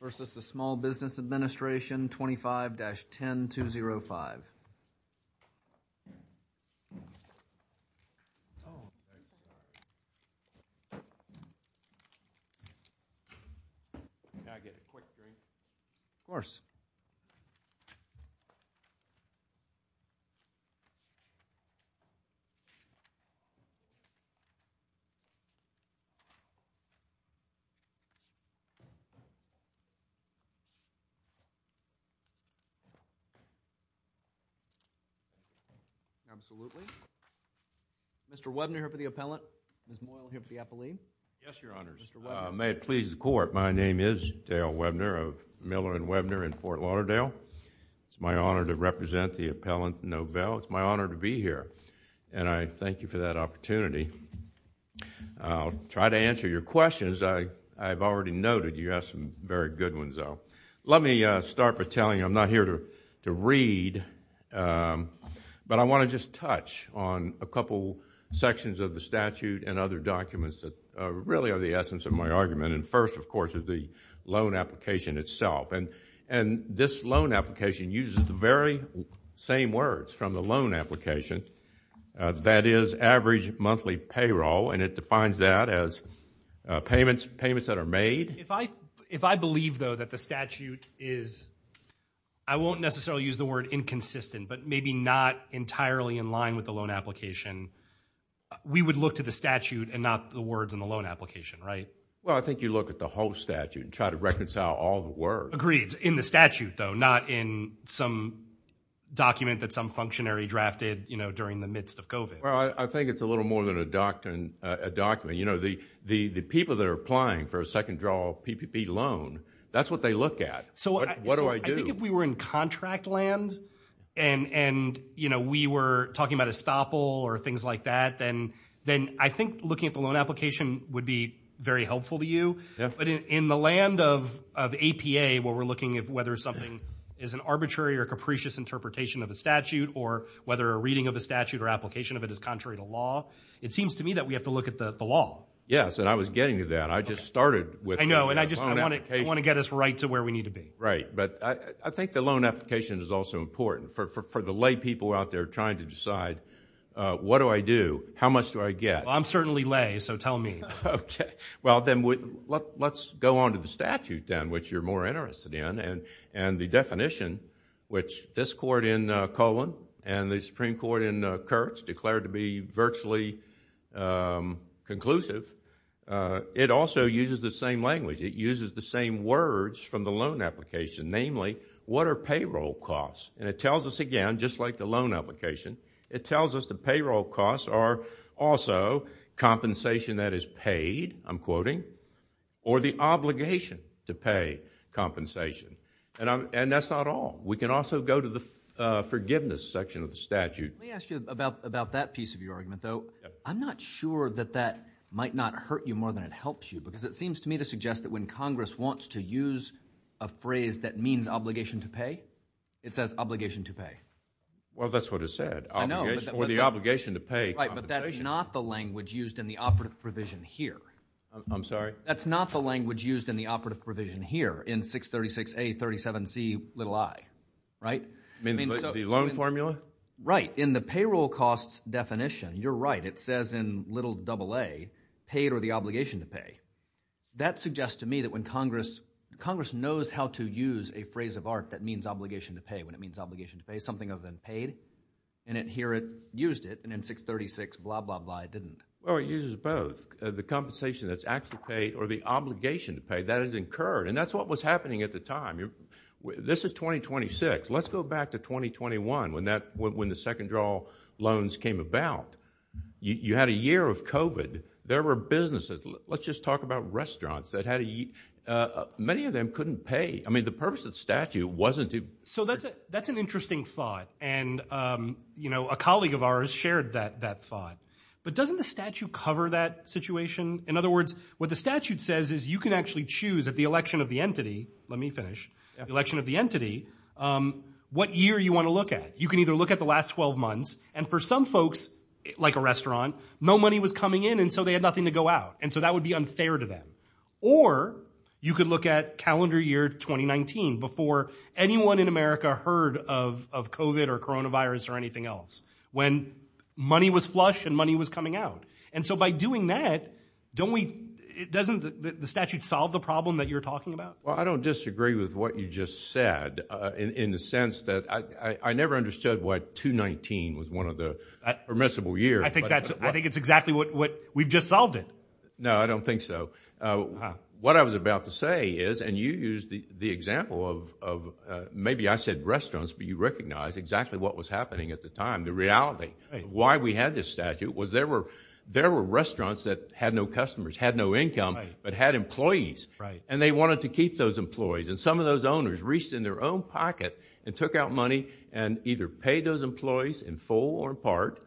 versus the Small Business Administration 25-10205. Absolutely. Mr. Webner here for the appellant. Ms. Moyle here for the appellee. Yes, Your Honors. Mr. Webner. May it please the Court, my name is Dale Webner of Miller & Webner in Fort Lauderdale. It's my honor to represent the appellant, Novelle. It's my honor to be here, and I thank you for that opportunity. I'll try to answer your questions. I've already noted you have some very good ones, though. Let me start by telling you, I'm not here to read, but I want to just touch on a couple sections of the statute and other documents that really are the essence of my argument. First, of course, is the loan application itself. This loan application uses the very same words from the loan application, that is, average monthly payroll, and it defines that as payments that are made. If I believe, though, that the statute is, I won't necessarily use the word inconsistent, but maybe not entirely in line with the loan application, we would look to the statute and not the words in the loan application, right? Well, I think you look at the whole statute and try to reconcile all the words. Agreed, in the statute, though, not in some document that some functionary drafted during the midst of COVID. Well, I think it's a little more than a document. The people that are applying for a second draw PPP loan, that's what they look at. What do I do? I think if we were in contract land and we were talking about estoppel or things like that, then I think looking at the loan application would be very helpful to you. In the land of APA, where we're looking at whether something is an arbitrary or capricious interpretation of a statute or whether a reading of a statute or application of it is contrary to law, it seems to me that we have to look at the law. Yes, and I was getting to that. I just started with the loan application. I know, and I just want to get us right to where we need to be. Right, but I think the loan application is also important. For the lay people out there trying to decide, what do I do? How much do I get? Well, I'm certainly lay, so tell me. Okay. Well, then let's go on to the statute then, which you're more interested in and the definition, which this court in Cohen and the Supreme Court in Kurtz declared to be virtually conclusive. It also uses the same language. It uses the same words from the loan application, namely, what are payroll costs? It tells us again, just like the loan application, it tells us the payroll costs are also compensation that is paid, I'm quoting, or the obligation to pay compensation, and that's not all. We can also go to the forgiveness section of the statute. Let me ask you about that piece of your argument, though. I'm not sure that that might not hurt you more than it helps you because it seems to me to suggest that when Congress wants to use a phrase that means obligation to pay, it says obligation to pay. Well, that's what it said, or the obligation to pay compensation. Right, but that's not the language used in the operative provision here. I'm sorry? That's not the language used in the operative provision here in 636A.37c.i, right? You mean the loan formula? Right. In the payroll costs definition, you're right. It says in little double A, paid or the obligation to pay. That suggests to me that when Congress knows how to use a phrase of art that means obligation to pay, when it means obligation to pay something other than paid, and here it used it, and in 636, blah, blah, blah, it didn't. Well, it uses both. The compensation that's actually paid or the obligation to pay, that is incurred, and that's what was happening at the time. This is 2026. Let's go back to 2021 when the second draw loans came about. You had a year of COVID. There were businesses. Let's just talk about restaurants that had to eat. Many of them couldn't pay. I mean, the purpose of the statute wasn't to... That's an interesting thought, and a colleague of ours shared that thought, but doesn't the statute cover that situation? In other words, what the statute says is you can actually choose at the election of the entity, let me finish, the election of the entity, what year you want to look at. You can either look at the last 12 months, and for some folks, like a restaurant, no money was coming in, and so they had nothing to go out, and so that would be unfair to them. Or you could look at calendar year 2019 before anyone in America heard of COVID or coronavirus or anything else, when money was flush and money was coming out. And so by doing that, doesn't the statute solve the problem that you're talking about? Well, I don't disagree with what you just said in the sense that I never understood why 2019 was one of the permissible years. I think it's exactly what we've just solved it. No, I don't think so. What I was about to say is, and you used the example of... Maybe I said restaurants, but you recognize exactly what was happening at the time. The reality, why we had this statute was there were restaurants that had no customers, had no income, but had employees, and they wanted to keep those employees. And some of those owners reached in their own pocket and took out money and either paid those employees in full or in part,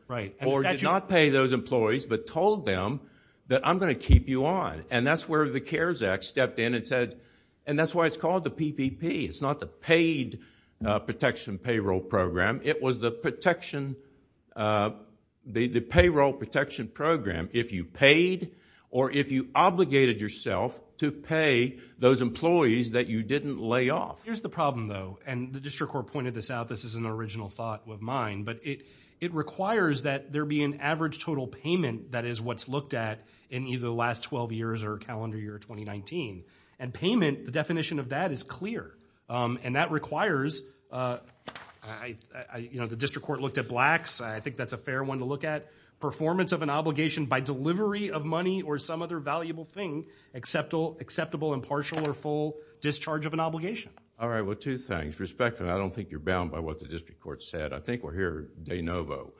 or did not pay those employees but told them that I'm going to keep you on. And that's where the CARES Act stepped in and said... And that's why it's called the PPP. It's not the Paid Protection Payroll Program. It was the Payroll Protection Program. If you paid or if you obligated yourself to pay those employees that you didn't lay off. Here's the problem though, and the District Court pointed this out. This is an original thought of mine, but it requires that there be an average total payment that is what's looked at in either the last 12 years or calendar year 2019. And payment, the definition of that is clear. And that requires... The District Court looked at blacks. I think that's a fair one to look at. Performance of an obligation by delivery of money or some other valuable thing, acceptable, impartial, or full discharge of an obligation. Alright, well two things. Respectfully, I don't think you're bound by what the District Court said. I think we're here de novo.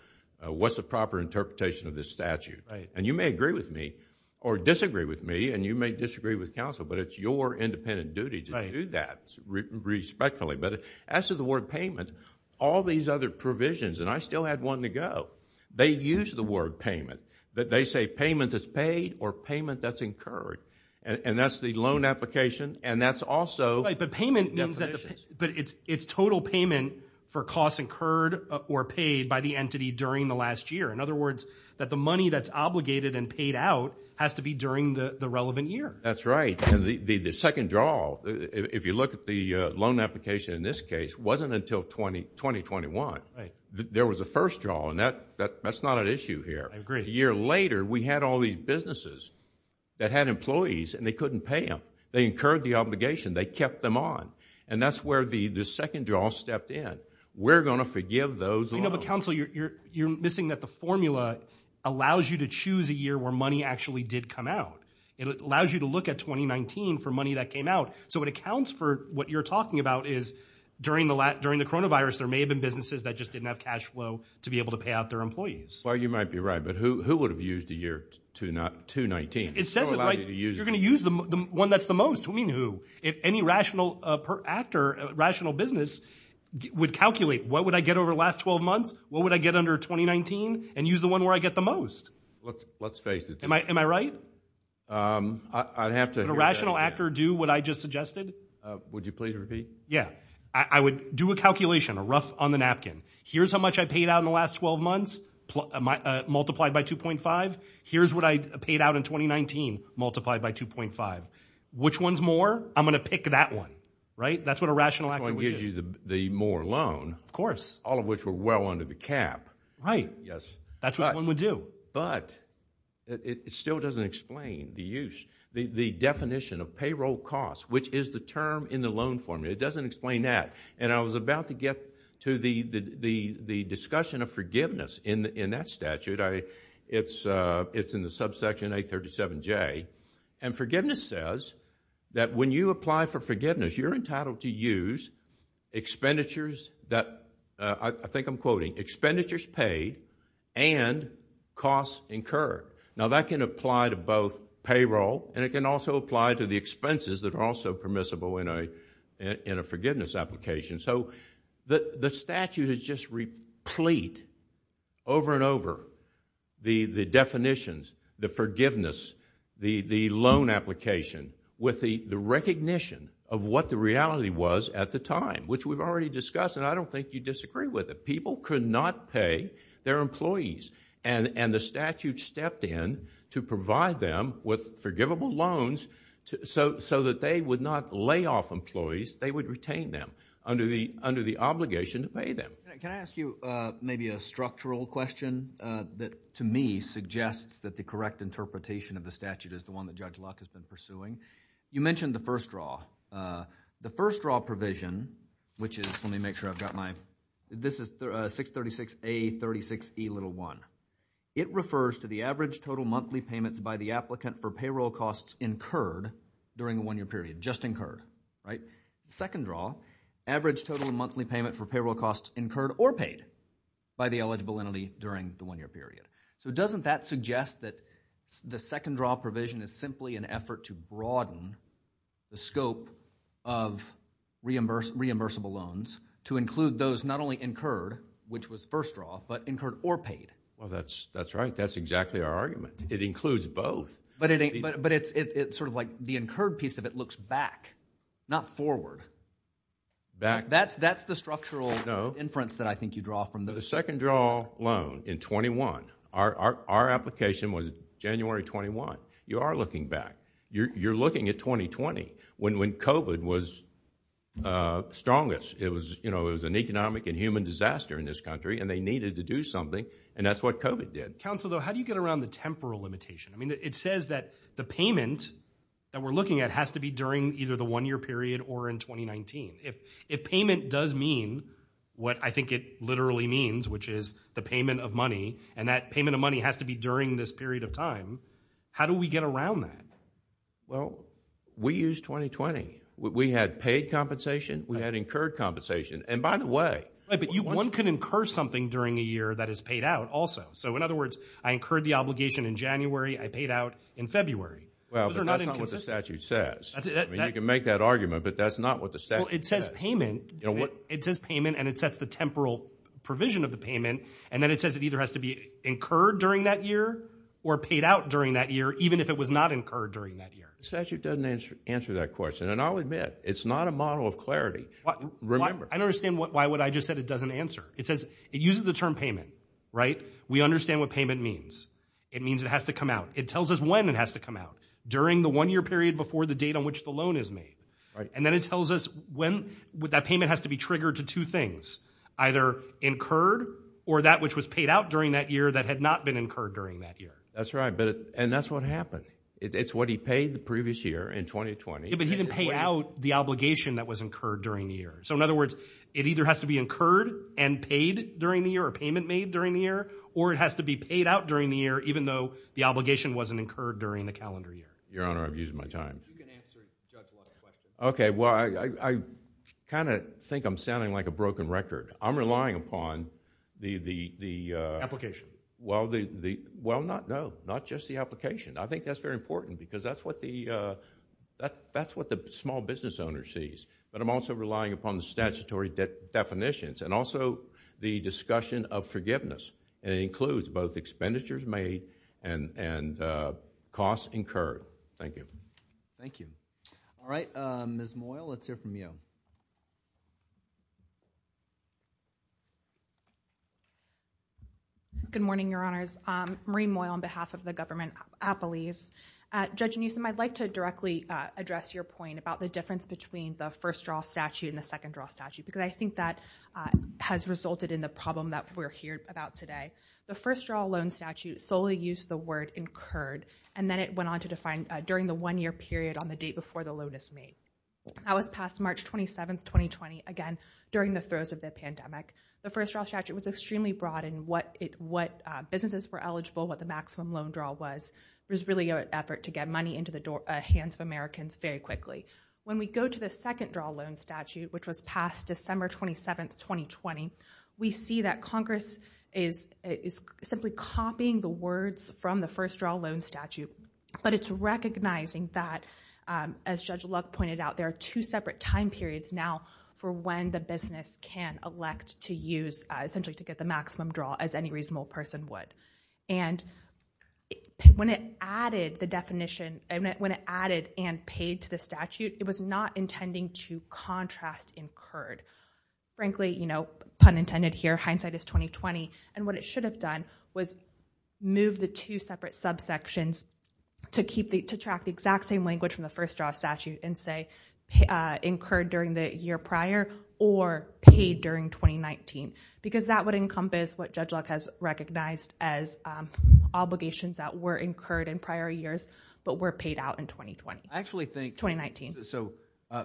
What's the proper interpretation of this statute? And you may agree with me or disagree with me, and you may disagree with counsel, but it's your independent duty to do that respectfully. But as to the word payment, all these other provisions, and I still had one to go, they use the word payment. They say payment that's paid or payment that's incurred. And that's the loan application and that's also... But payment means that it's total payment for costs incurred or paid by the entity during the last year. In other words, that the money that's obligated and paid out has to be during the relevant year. That's right. And the second draw, if you look at the loan application in this case, wasn't until 2021. There was a first draw, and that's not an issue here. A year later, we had all these businesses that had employees and they couldn't pay them. They incurred the obligation. They kept them on. And that's where the second draw stepped in. We're going to forgive those loans. But counsel, you're missing that the formula allows you to choose a year where money actually did come out. It allows you to look at 2019 for money that came out. So it accounts for what you're talking about is during the coronavirus, there may have been businesses that just didn't have cash flow to be able to pay out their employees. Well, you might be right, but who would have used the year 2019? It says you're going to use the one that's the most. What do you mean who? If any rational business would calculate what would I get over the last 12 months, what would I get under 2019, and use the one where I get the most? Let's face it. Am I right? I'd have to hear that again. Would a rational actor do what I just suggested? Would you please repeat? Yeah. I would do a calculation, a rough on the napkin. Here's how much I paid out in the last 12 months multiplied by 2.5. Here's what I paid out in 2019 multiplied by 2.5. Which one's more? I'm going to pick that one. Right? That's what a rational actor would do. Which one gives you the more loan? Of course. All of which were well under the cap. Right. Yes. That's what one would do. But it still doesn't explain the use, the definition of payroll costs, which is the term in the loan formula. It doesn't explain that. And I was about to get to the discussion of forgiveness in that statute. It's in the subsection 837J. And forgiveness says that when you apply for forgiveness, you're entitled to use expenditures that, I think I'm quoting, expenditures paid and costs incurred. Now, that can apply to both payroll and it can also apply to the expenses that are also permissible in a forgiveness application. So the statute is just replete over and over the definitions, the forgiveness, the loan application with the recognition of what the reality was at the time, which we've already discussed and I don't think you'd disagree with it. People could not pay their employees and the statute stepped in to provide them with forgivable loans so that they would not lay off employees, they would retain them. Under the obligation to pay them. Can I ask you maybe a structural question that to me suggests that the correct interpretation of the statute is the one that Judge Luck has been pursuing? You mentioned the first draw. The first draw provision, which is, let me make sure I've got my, this is 636A36E1. It refers to the average total monthly payments by the applicant for payroll costs incurred during a one-year period. Just incurred, right? Second draw, average total monthly payment for payroll costs incurred or paid by the eligible entity during the one-year period. So doesn't that suggest that the second draw provision is simply an effort to broaden the scope of reimbursable loans to include those not only incurred, which was first draw, but incurred or paid? Well, that's right. That's exactly our argument. It includes both. But it's sort of like the incurred piece of it looks back, not forward. That's the structural inference that I think you draw from. The second draw loan in 21, our application was January 21. You are looking back. You're looking at 2020 when COVID was strongest. It was, you know, it was an economic and human disaster in this country and they needed to do something and that's what COVID did. Counsel, though, how do you get around the temporal limitation? I mean, it says that the payment that we're looking at has to be during either the one-year period or in 2019. If payment does mean what I think it literally means, which is the payment of money and that payment of money has to be during this period of time, how do we get around that? Well, we used 2020. We had paid compensation. We had incurred compensation. And by the way, one can incur something during a year that is paid out also. So in other words, I incurred the obligation in January. I paid out in February. Well, that's not what the statute says. You can make that argument, but that's not what the statute says. It says payment and it sets the temporal provision of the payment and then it says it either has to be incurred during that year or paid out during that year even if it was not incurred during that year. The statute doesn't answer that question. And I'll admit, it's not a model of clarity. Remember. I don't understand why would I just said it doesn't answer. It says, it uses the term payment, right? We understand what payment means. It means it has to come out. It tells us when it has to come out during the one year period before the date on which the loan is made. And then it tells us when that payment has to be triggered to two things. Either incurred or that which was paid out during that year that had not been incurred during that year. That's right. And that's what happened. It's what he paid the previous year in 2020. Yeah, but he didn't pay out the obligation that was incurred during the year. So in other words, it either has to be incurred and paid during the year or payment made during the year or it has to be paid out during the year even though the obligation wasn't incurred during the calendar year. Your Honor, I'm using my time. You can answer Judge White's question. Okay, well, I kind of think I'm sounding like a broken record. I'm relying upon the... Well, no. Not just the application. I think that's very important because that's what the small business owner sees. But I'm also relying upon the statutory definitions and also the discussion of forgiveness. It includes both expenditures made and costs incurred. Thank you. All right, Ms. Moyle, let's hear from you. Good morning, Your Honors. Maureen Moyle on behalf of the government of Appalachia. Judge Newsom, I'd like to directly address your point about the difference between the first draw statute and the second draw statute because I think that has resulted in the problem that we're hearing about today. The first draw loan statute solely uses the word incurred and then it went on to define during the one-year period on the date before the loan is made. That was passed March 27, 2020, again, during the throes of the pandemic. The first draw statute was extremely broad in what businesses were eligible, what the maximum loan draw was. It was really an effort to get money into the hands of Americans very quickly. When we go to the second draw loan statute, which was passed December 27, 2020, we see that Congress is simply copying the words from the first draw loan statute but it's recognizing that, as Judge Luck pointed out, there are two separate time periods now for when the business can elect to use, essentially to get the maximum draw as any reasonable person would. When it added the definition, when it added and paid to the statute, it was not intending to contrast incurred. Frankly, pun intended here, hindsight is 20-20 and what it should have done was move the two separate subsections to track the exact same language from the first draw statute and say, incurred during the year prior or paid during 2019. That would encompass what Judge Luck has recognized as obligations that were incurred in prior years but were paid out in 2020. I actually think... 2019.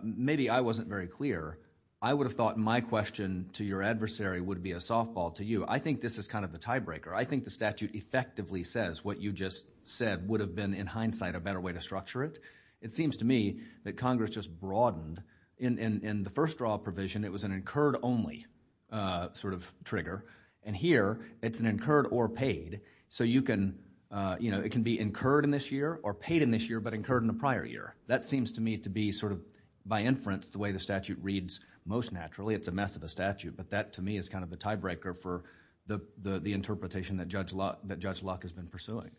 Maybe I wasn't very clear. I would have thought my question to your adversary would be a softball to you. I think this is kind of the tiebreaker. I think the statute effectively says what you just said would have been in hindsight a better way to structure it. It seems to me that Congress just broadened... In the first draw provision, it was an incurred only sort of trigger and here, it's an incurred or paid so you can... It can be incurred in this year or paid in this year but incurred in the prior year. That seems to me to be sort of by inference the way the statute reads most naturally. It's a mess of a statute but that to me is kind of a tiebreaker for the interpretation that Judge Locke has been pursuing.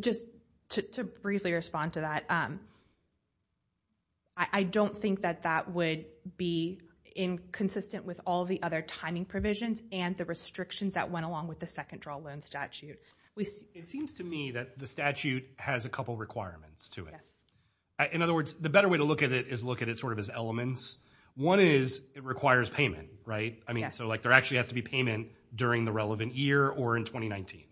Just to briefly respond to that, I don't think that that would be inconsistent with all the other timing provisions and the restrictions that went along with the second draw loan statute. It seems to me that the statute has a couple of requirements to it. In other words, the better way to look at it is look at it sort of as elements. One is, it requires payment. I mean, so there actually has to be payment during the relevant year or in 2019.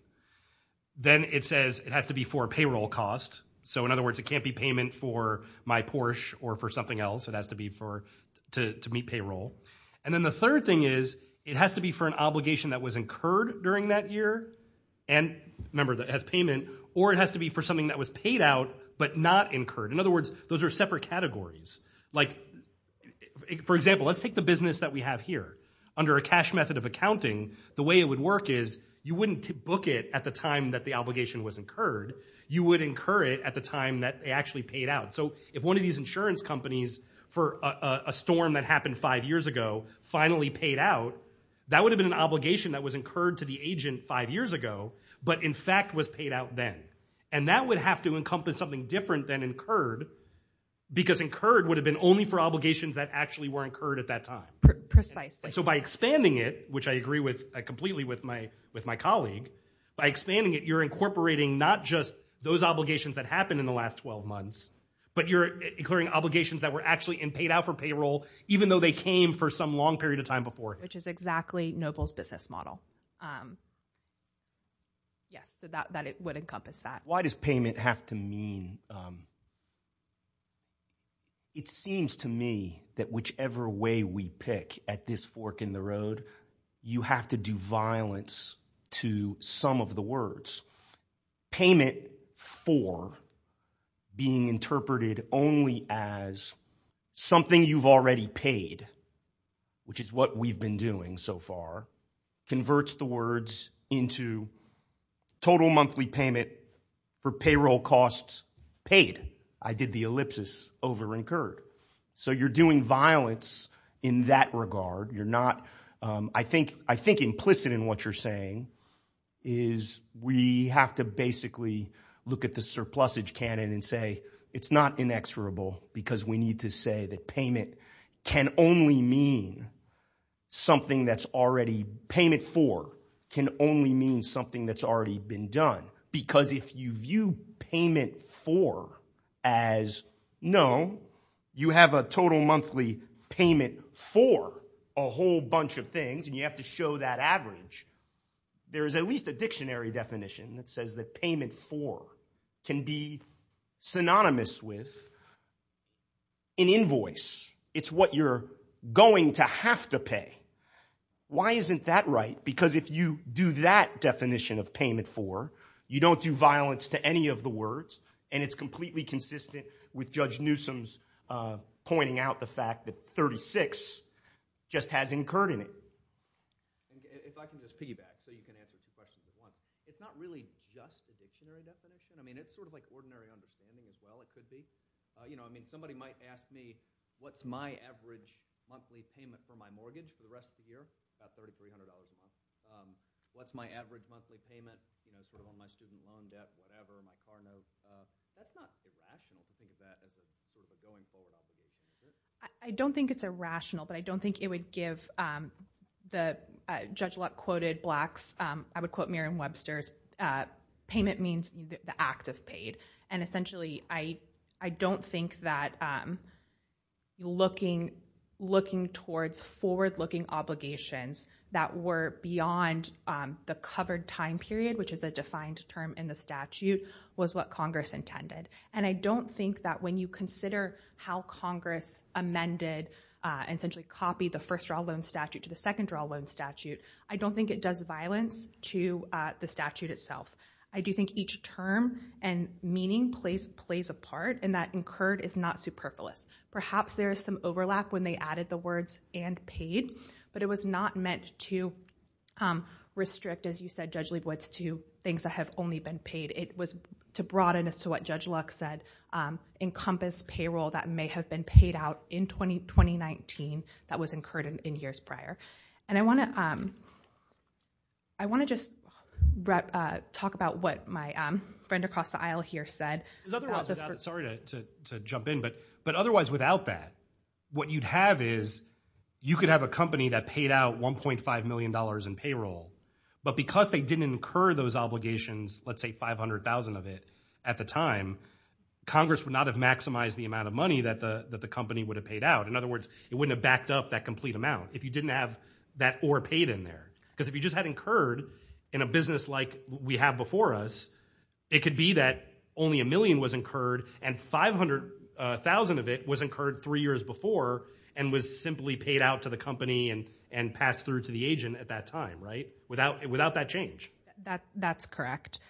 Then it says it has to be for payroll cost. In other words, it can't be payment for my Porsche or for something else. It has to be to meet payroll. Then the third thing is it has to be for an obligation that was incurred during that year and remember that it has payment or it has to be for something that was paid out but not incurred. In other words, those are separate categories. For example, let's take the business that we have here. Under a cash method of accounting, the way it would work is you wouldn't book it at the time that the obligation was incurred. You would incur it at the time that they actually paid out. If one of these insurance companies for a storm that happened five years ago finally paid out, that would have been an obligation that was incurred to the agent five years ago but in fact was paid out then. That would have to encompass something different than incurred because incurred would have been only for obligations that actually were incurred at that time. By expanding it, which I agree with completely with my colleague, by expanding it, you're incorporating not just those obligations that happened in the last 12 months but you're incurring obligations that were actually paid out for payroll even though they came for some long period of time before. Which is exactly Noble's business model. Yes, it would encompass that. Why does payment have to mean it seems to me that whichever way we pick at this fork in the road you have to do violence to some of the words. Payment for being interpreted only as something you've already paid which is what we've been doing so far converts the words into total monthly payment for payroll costs paid. I did the ellipsis over incurred. So you're doing violence in that regard. You're not I think implicit in what you're saying is we have to basically look at the surplusage canon and say it's not inexorable because we need to say that payment can only mean something that's already payment for can only mean something that's already been done. Because if you view payment for as no you have a total monthly payment for a whole bunch of things and you have to show that average there is at least a dictionary definition that says that payment for can be synonymous with an invoice. It's what you're going to have to pay. Why isn't that right? Because if you do that definition of payment for you don't do violence to any of the words and it's completely consistent with Judge Newsom's pointing out the fact that 36 just has incurred in it. If I can just piggyback so you can answer the question it's not really just a dictionary definition I mean it's sort of like ordinary understanding as well it could be. You know I mean somebody might ask me what's my average monthly payment for my mortgage for the rest of the year? About $3,300 a month. What's my average monthly payment for when my student loan debt whatever my car note. That's not irrational to think of that as a going forward. I don't think it's irrational but I don't think it would give the Judge Luck quoted Black's I would quote Merriam-Webster's payment means the act of paid and essentially I don't think that looking towards forward-looking obligations that were beyond the covered time period which is a defined term in the statute was what Congress intended. And I don't think that when you consider how Congress amended essentially copied the first draw loan statute to the second draw loan statute I don't think it does violence to the statute itself. I do think each term and meaning plays a part and that incurred is not superfluous. Perhaps there is some overlap when they added the words and paid but it was not meant to restrict as you said Judge Leibowitz to things that have only been paid. It was to broaden what Judge Luck said encompass payroll that may have been paid out in 2019 that was incurred in years prior. I want to just talk about what my friend across the aisle here said. Sorry to jump in but otherwise without that what you'd have is you could have a company that paid out $1.5 million in payroll but because they didn't incur those obligations let's say $500,000 of it at the time Congress would not have maximized the amount of money that the company would have paid out. In other words it wouldn't have backed up that complete amount if you didn't have that or paid in there. Because if you just had incurred in a business like we have before us it could be that only a million was incurred and $500,000 of it was incurred three years before and was simply paid out to the company and passed through to the agent at that time. Without that change. That's correct.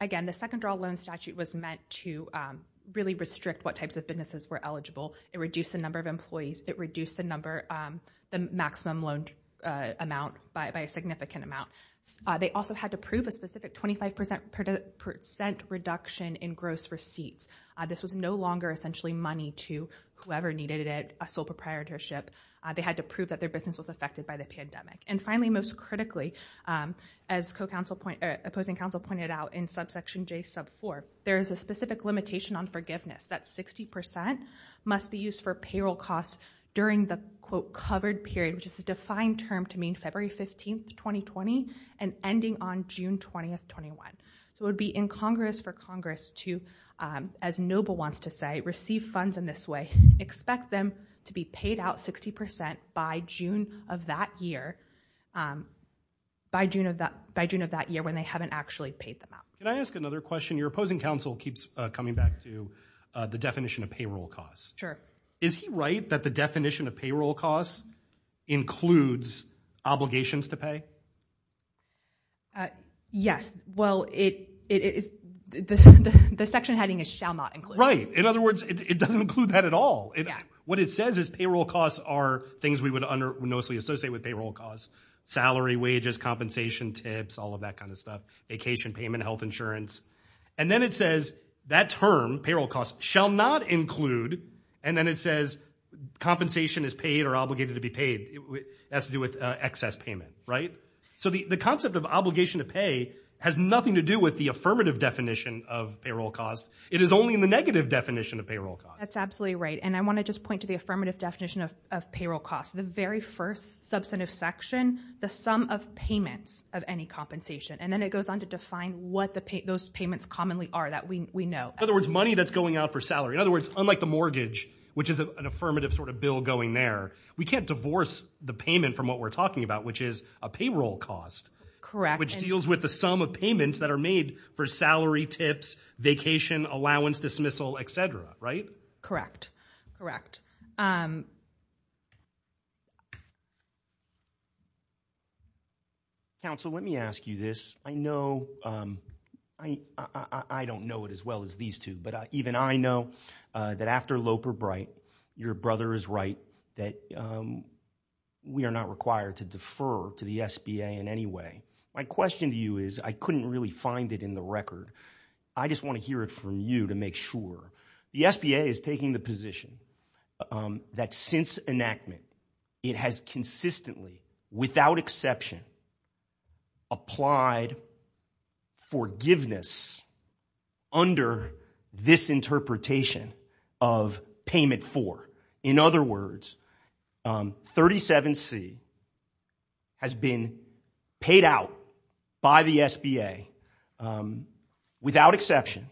Again the second draw loan statute was meant to really restrict what types of businesses were eligible it reduced the number of employees, it reduced the maximum loan amount by a significant amount. They also had to prove a specific 25% reduction in gross receipts. This was no longer essentially money to whoever needed it, a sole proprietorship. They had to prove that their business was affected by the pandemic. And finally most critically as opposing counsel pointed out in subsection J sub 4 there is a specific limitation on forgiveness that 60% must be used for payroll costs during the covered period which is the defined term to mean February 15, 2020 and ending on June 20, 2021. It would be in Congress for Congress to as Noble wants to say, receive funds in this way, expect them to be paid out 60% by June of that year by June of that year when they haven't actually paid them out. Can I ask another question? Your opposing counsel keeps coming back to the definition of payroll costs. Sure. Is he right that the definition of payroll costs includes obligations to pay? Yes. Well, the section heading is shall not include. Right. In other words, it doesn't include that at all. What it says is payroll costs are things we would mostly associate with payroll costs. Salary, wages, compensation, tips, all of that kind of stuff. Vacation payment, health insurance. And then it says that term, payroll costs, shall not include and then it says compensation is paid or obligated to be paid. It has to do with excess payment, right? So the concept of obligation to pay has nothing to do with the affirmative definition of payroll costs. It is only in the negative definition of payroll costs. That's absolutely right. And I want to just point to the affirmative definition of payroll costs. The very first substantive section, the sum of payments of any compensation. And then it goes on to define what those payments commonly are that we know. In other words, money that's going out for salary. In other words, unlike the mortgage, which is an affirmative sort of bill going there, we can't divorce the payment from what we're talking about, which is a payroll cost. Correct. Which deals with the sum of payments that are made for salary, tips, vacation, allowance, dismissal, etc. Right? Correct. Counsel, let me ask you this. I know, I don't know it as well as these two, but even I know that after Loper-Bright, your brother is right that we are not required to defer to the SBA in any way. My question to you is, I couldn't really find it in the record. I just want to hear it from you to make sure. The SBA is taking the position that since enactment, it has consistently, without exception, applied forgiveness under this interpretation of payment for. In other words, 37C has been paid out by the SBA without exception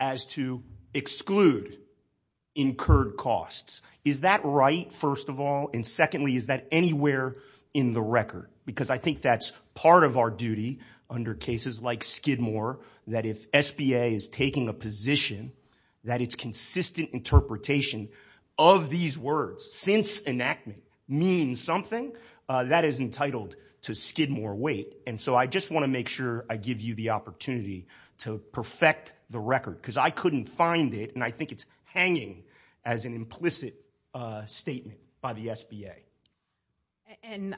as to exclude incurred costs. Is that right, first of all? And secondly, is that anywhere in the record? Because I think that's part of our duty under cases like Skidmore, that if SBA is taking a position that it's consistent interpretation of these words since enactment means something, that is entitled to Skidmore weight. I just want to make sure I give you the opportunity to perfect the record, because I couldn't find it and I think it's hanging as an implicit statement by the SBA.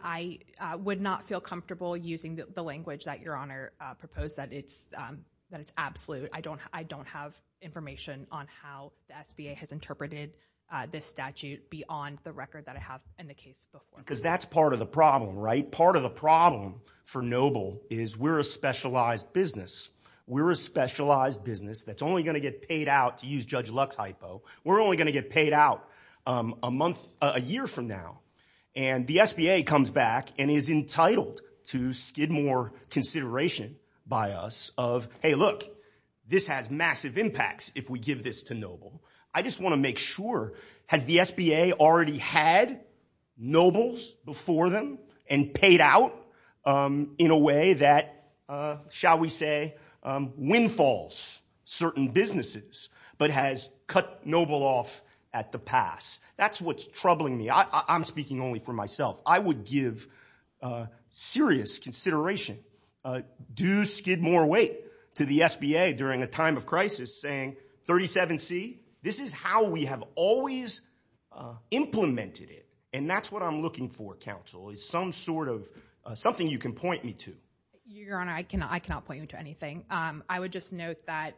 I would not feel comfortable using the language that your Honor proposed, that it's absolute. I don't have information on how the SBA has interpreted this statute beyond the record that I have in the case before. Because that's part of the problem, right? Part of the problem for Noble is we're a specialized business. We're a specialized business that's only going to get paid out, to use Judge Luck's hypo, we're only going to get paid out a month, a year from now. And the SBA comes back and is entitled to Skidmore consideration by us of, hey, look, this has massive impacts if we give this to Noble. I just want to make sure, has the SBA already had Nobles before them and paid out in a way that, shall we say, windfalls certain businesses, but has cut Noble off at the pass? That's what's troubling me. I'm speaking only for myself. I would give serious consideration. Do I give Skidmore weight to the SBA during a time of crisis saying, 37C, this is how we have always implemented it. And that's what I'm looking for, counsel, is some sort of something you can point me to. Your Honor, I cannot point you to anything. I would just note that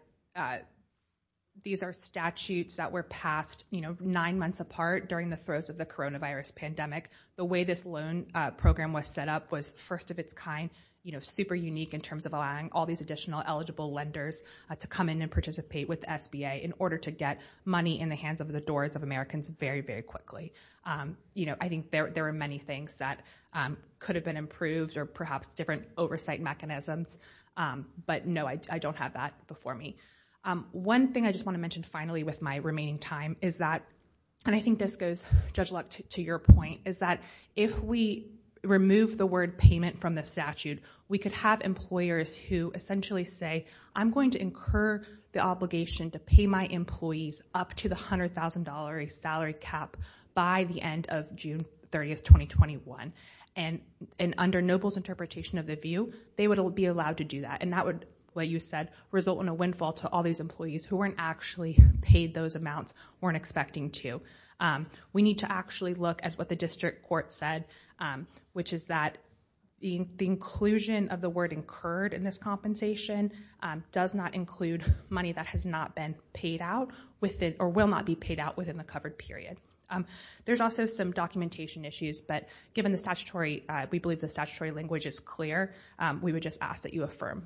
these are statutes that were passed, you know, nine months apart during the throes of the coronavirus pandemic. The way this loan program was set up was first of its kind, you know, super unique in terms of allowing all these additional eligible lenders to come in and participate with the SBA in order to get money in the hands of the doors of Americans very, very quickly. You know, I think there are many things that could have been improved or perhaps different oversight mechanisms, but no, I don't have that before me. One thing I just want to mention finally with my remaining time is that, and I think this goes, Judge Luck, to your point, is that if we remove the word payment from the statute, we could have employers who essentially say, I'm going to incur the obligation to pay my employees up to the $100,000 salary cap by the end of June 30, 2021. And under Noble's interpretation of the view, they would be allowed to do that, and that would, like you said, result in a windfall to all these employees who weren't actually paid those amounts, weren't expecting to. We need to actually look at what the district court said, which is that the inclusion of the word incurred in this compensation does not include money that has not been paid out, or will not be paid out within the covered period. There's also some documentation issues, but given the statutory, we believe the statutory language is clear, we would just ask that you affirm.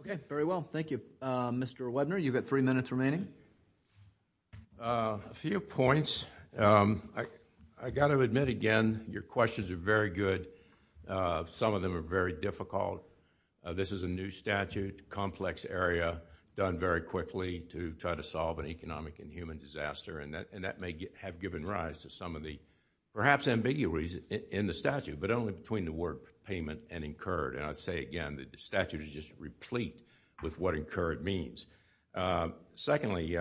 Okay, very well. Thank you. Mr. Webner, you've got three minutes remaining. A few points. I've got to admit, again, your questions are very good. Some of them are very difficult. This is a new statute, complex area, done very quickly to try to solve an economic and human disaster, and that may have given rise to some of the, perhaps, ambiguities in the statute, but only between the word payment and incurred. And I'd say again that the statute is just replete with what incurred means. Secondly,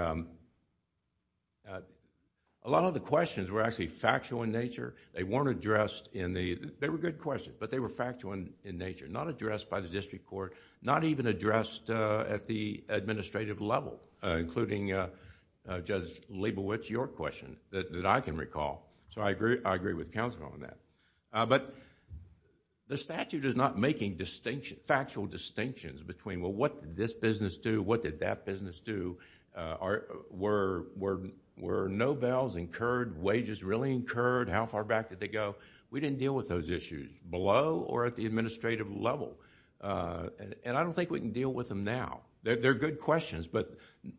a lot of the questions were actually factual in nature. They weren't addressed in the... they were good questions, but they were factual in nature, not addressed by the district court, not even addressed at the administrative level, including Judge Leibowitz, your question, that I can recall, so I agree with counsel on that. The statute is not making factual distinctions between, well, what did this business do? What did that business do? Were no bails incurred? Wages really incurred? How far back did they go? We didn't deal with those issues, below or at the administrative level. And I don't think we can deal with them now. They're good questions, but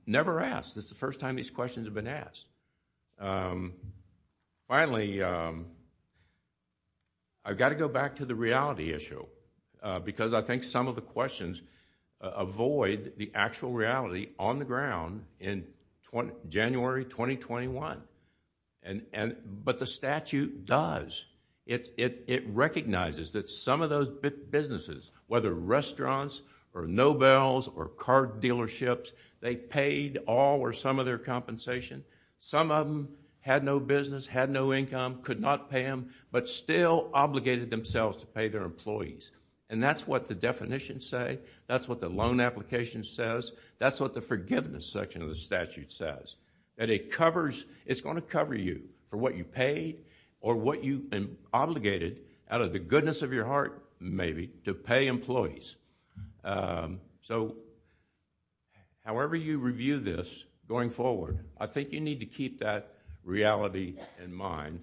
never asked. This is the first time these questions have been asked. Finally, I've got to go back to the reality issue, because I think some of the questions avoid the actual reality on the ground in January 2021. But the statute does. It recognizes that some of those businesses, whether restaurants or no bails or car dealerships, they paid all or some of their compensation. Some of them had no business, had no income, could not pay them, but still obligated themselves to pay their employees. And that's what the definitions say. That's what the loan application says. That's what the forgiveness section of the statute says. It's going to cover you for what you paid or what you obligated, out of the goodness of your heart, maybe, to pay employees. So, however you review this going forward, I think you need to keep that reality in mind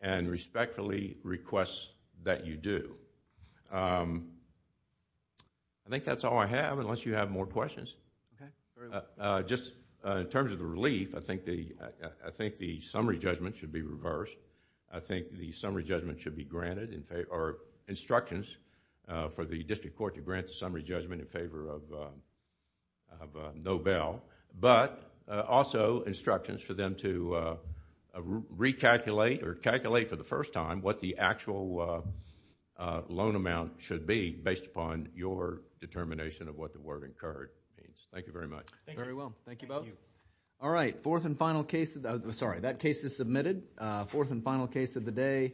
and respectfully request that you do. I think that's all I have, unless you have more questions. Just in terms of the relief, I think the summary judgment should be reversed. I think the summary judgment should be granted or instructions for the district court to grant the summary judgment in favor of no bail, but also instructions for them to recalculate or calculate for the first time what the actual loan amount should be, based upon your determination of what the word incurred. Thank you very much. Thank you both. That case is submitted. Fourth and final case of the day.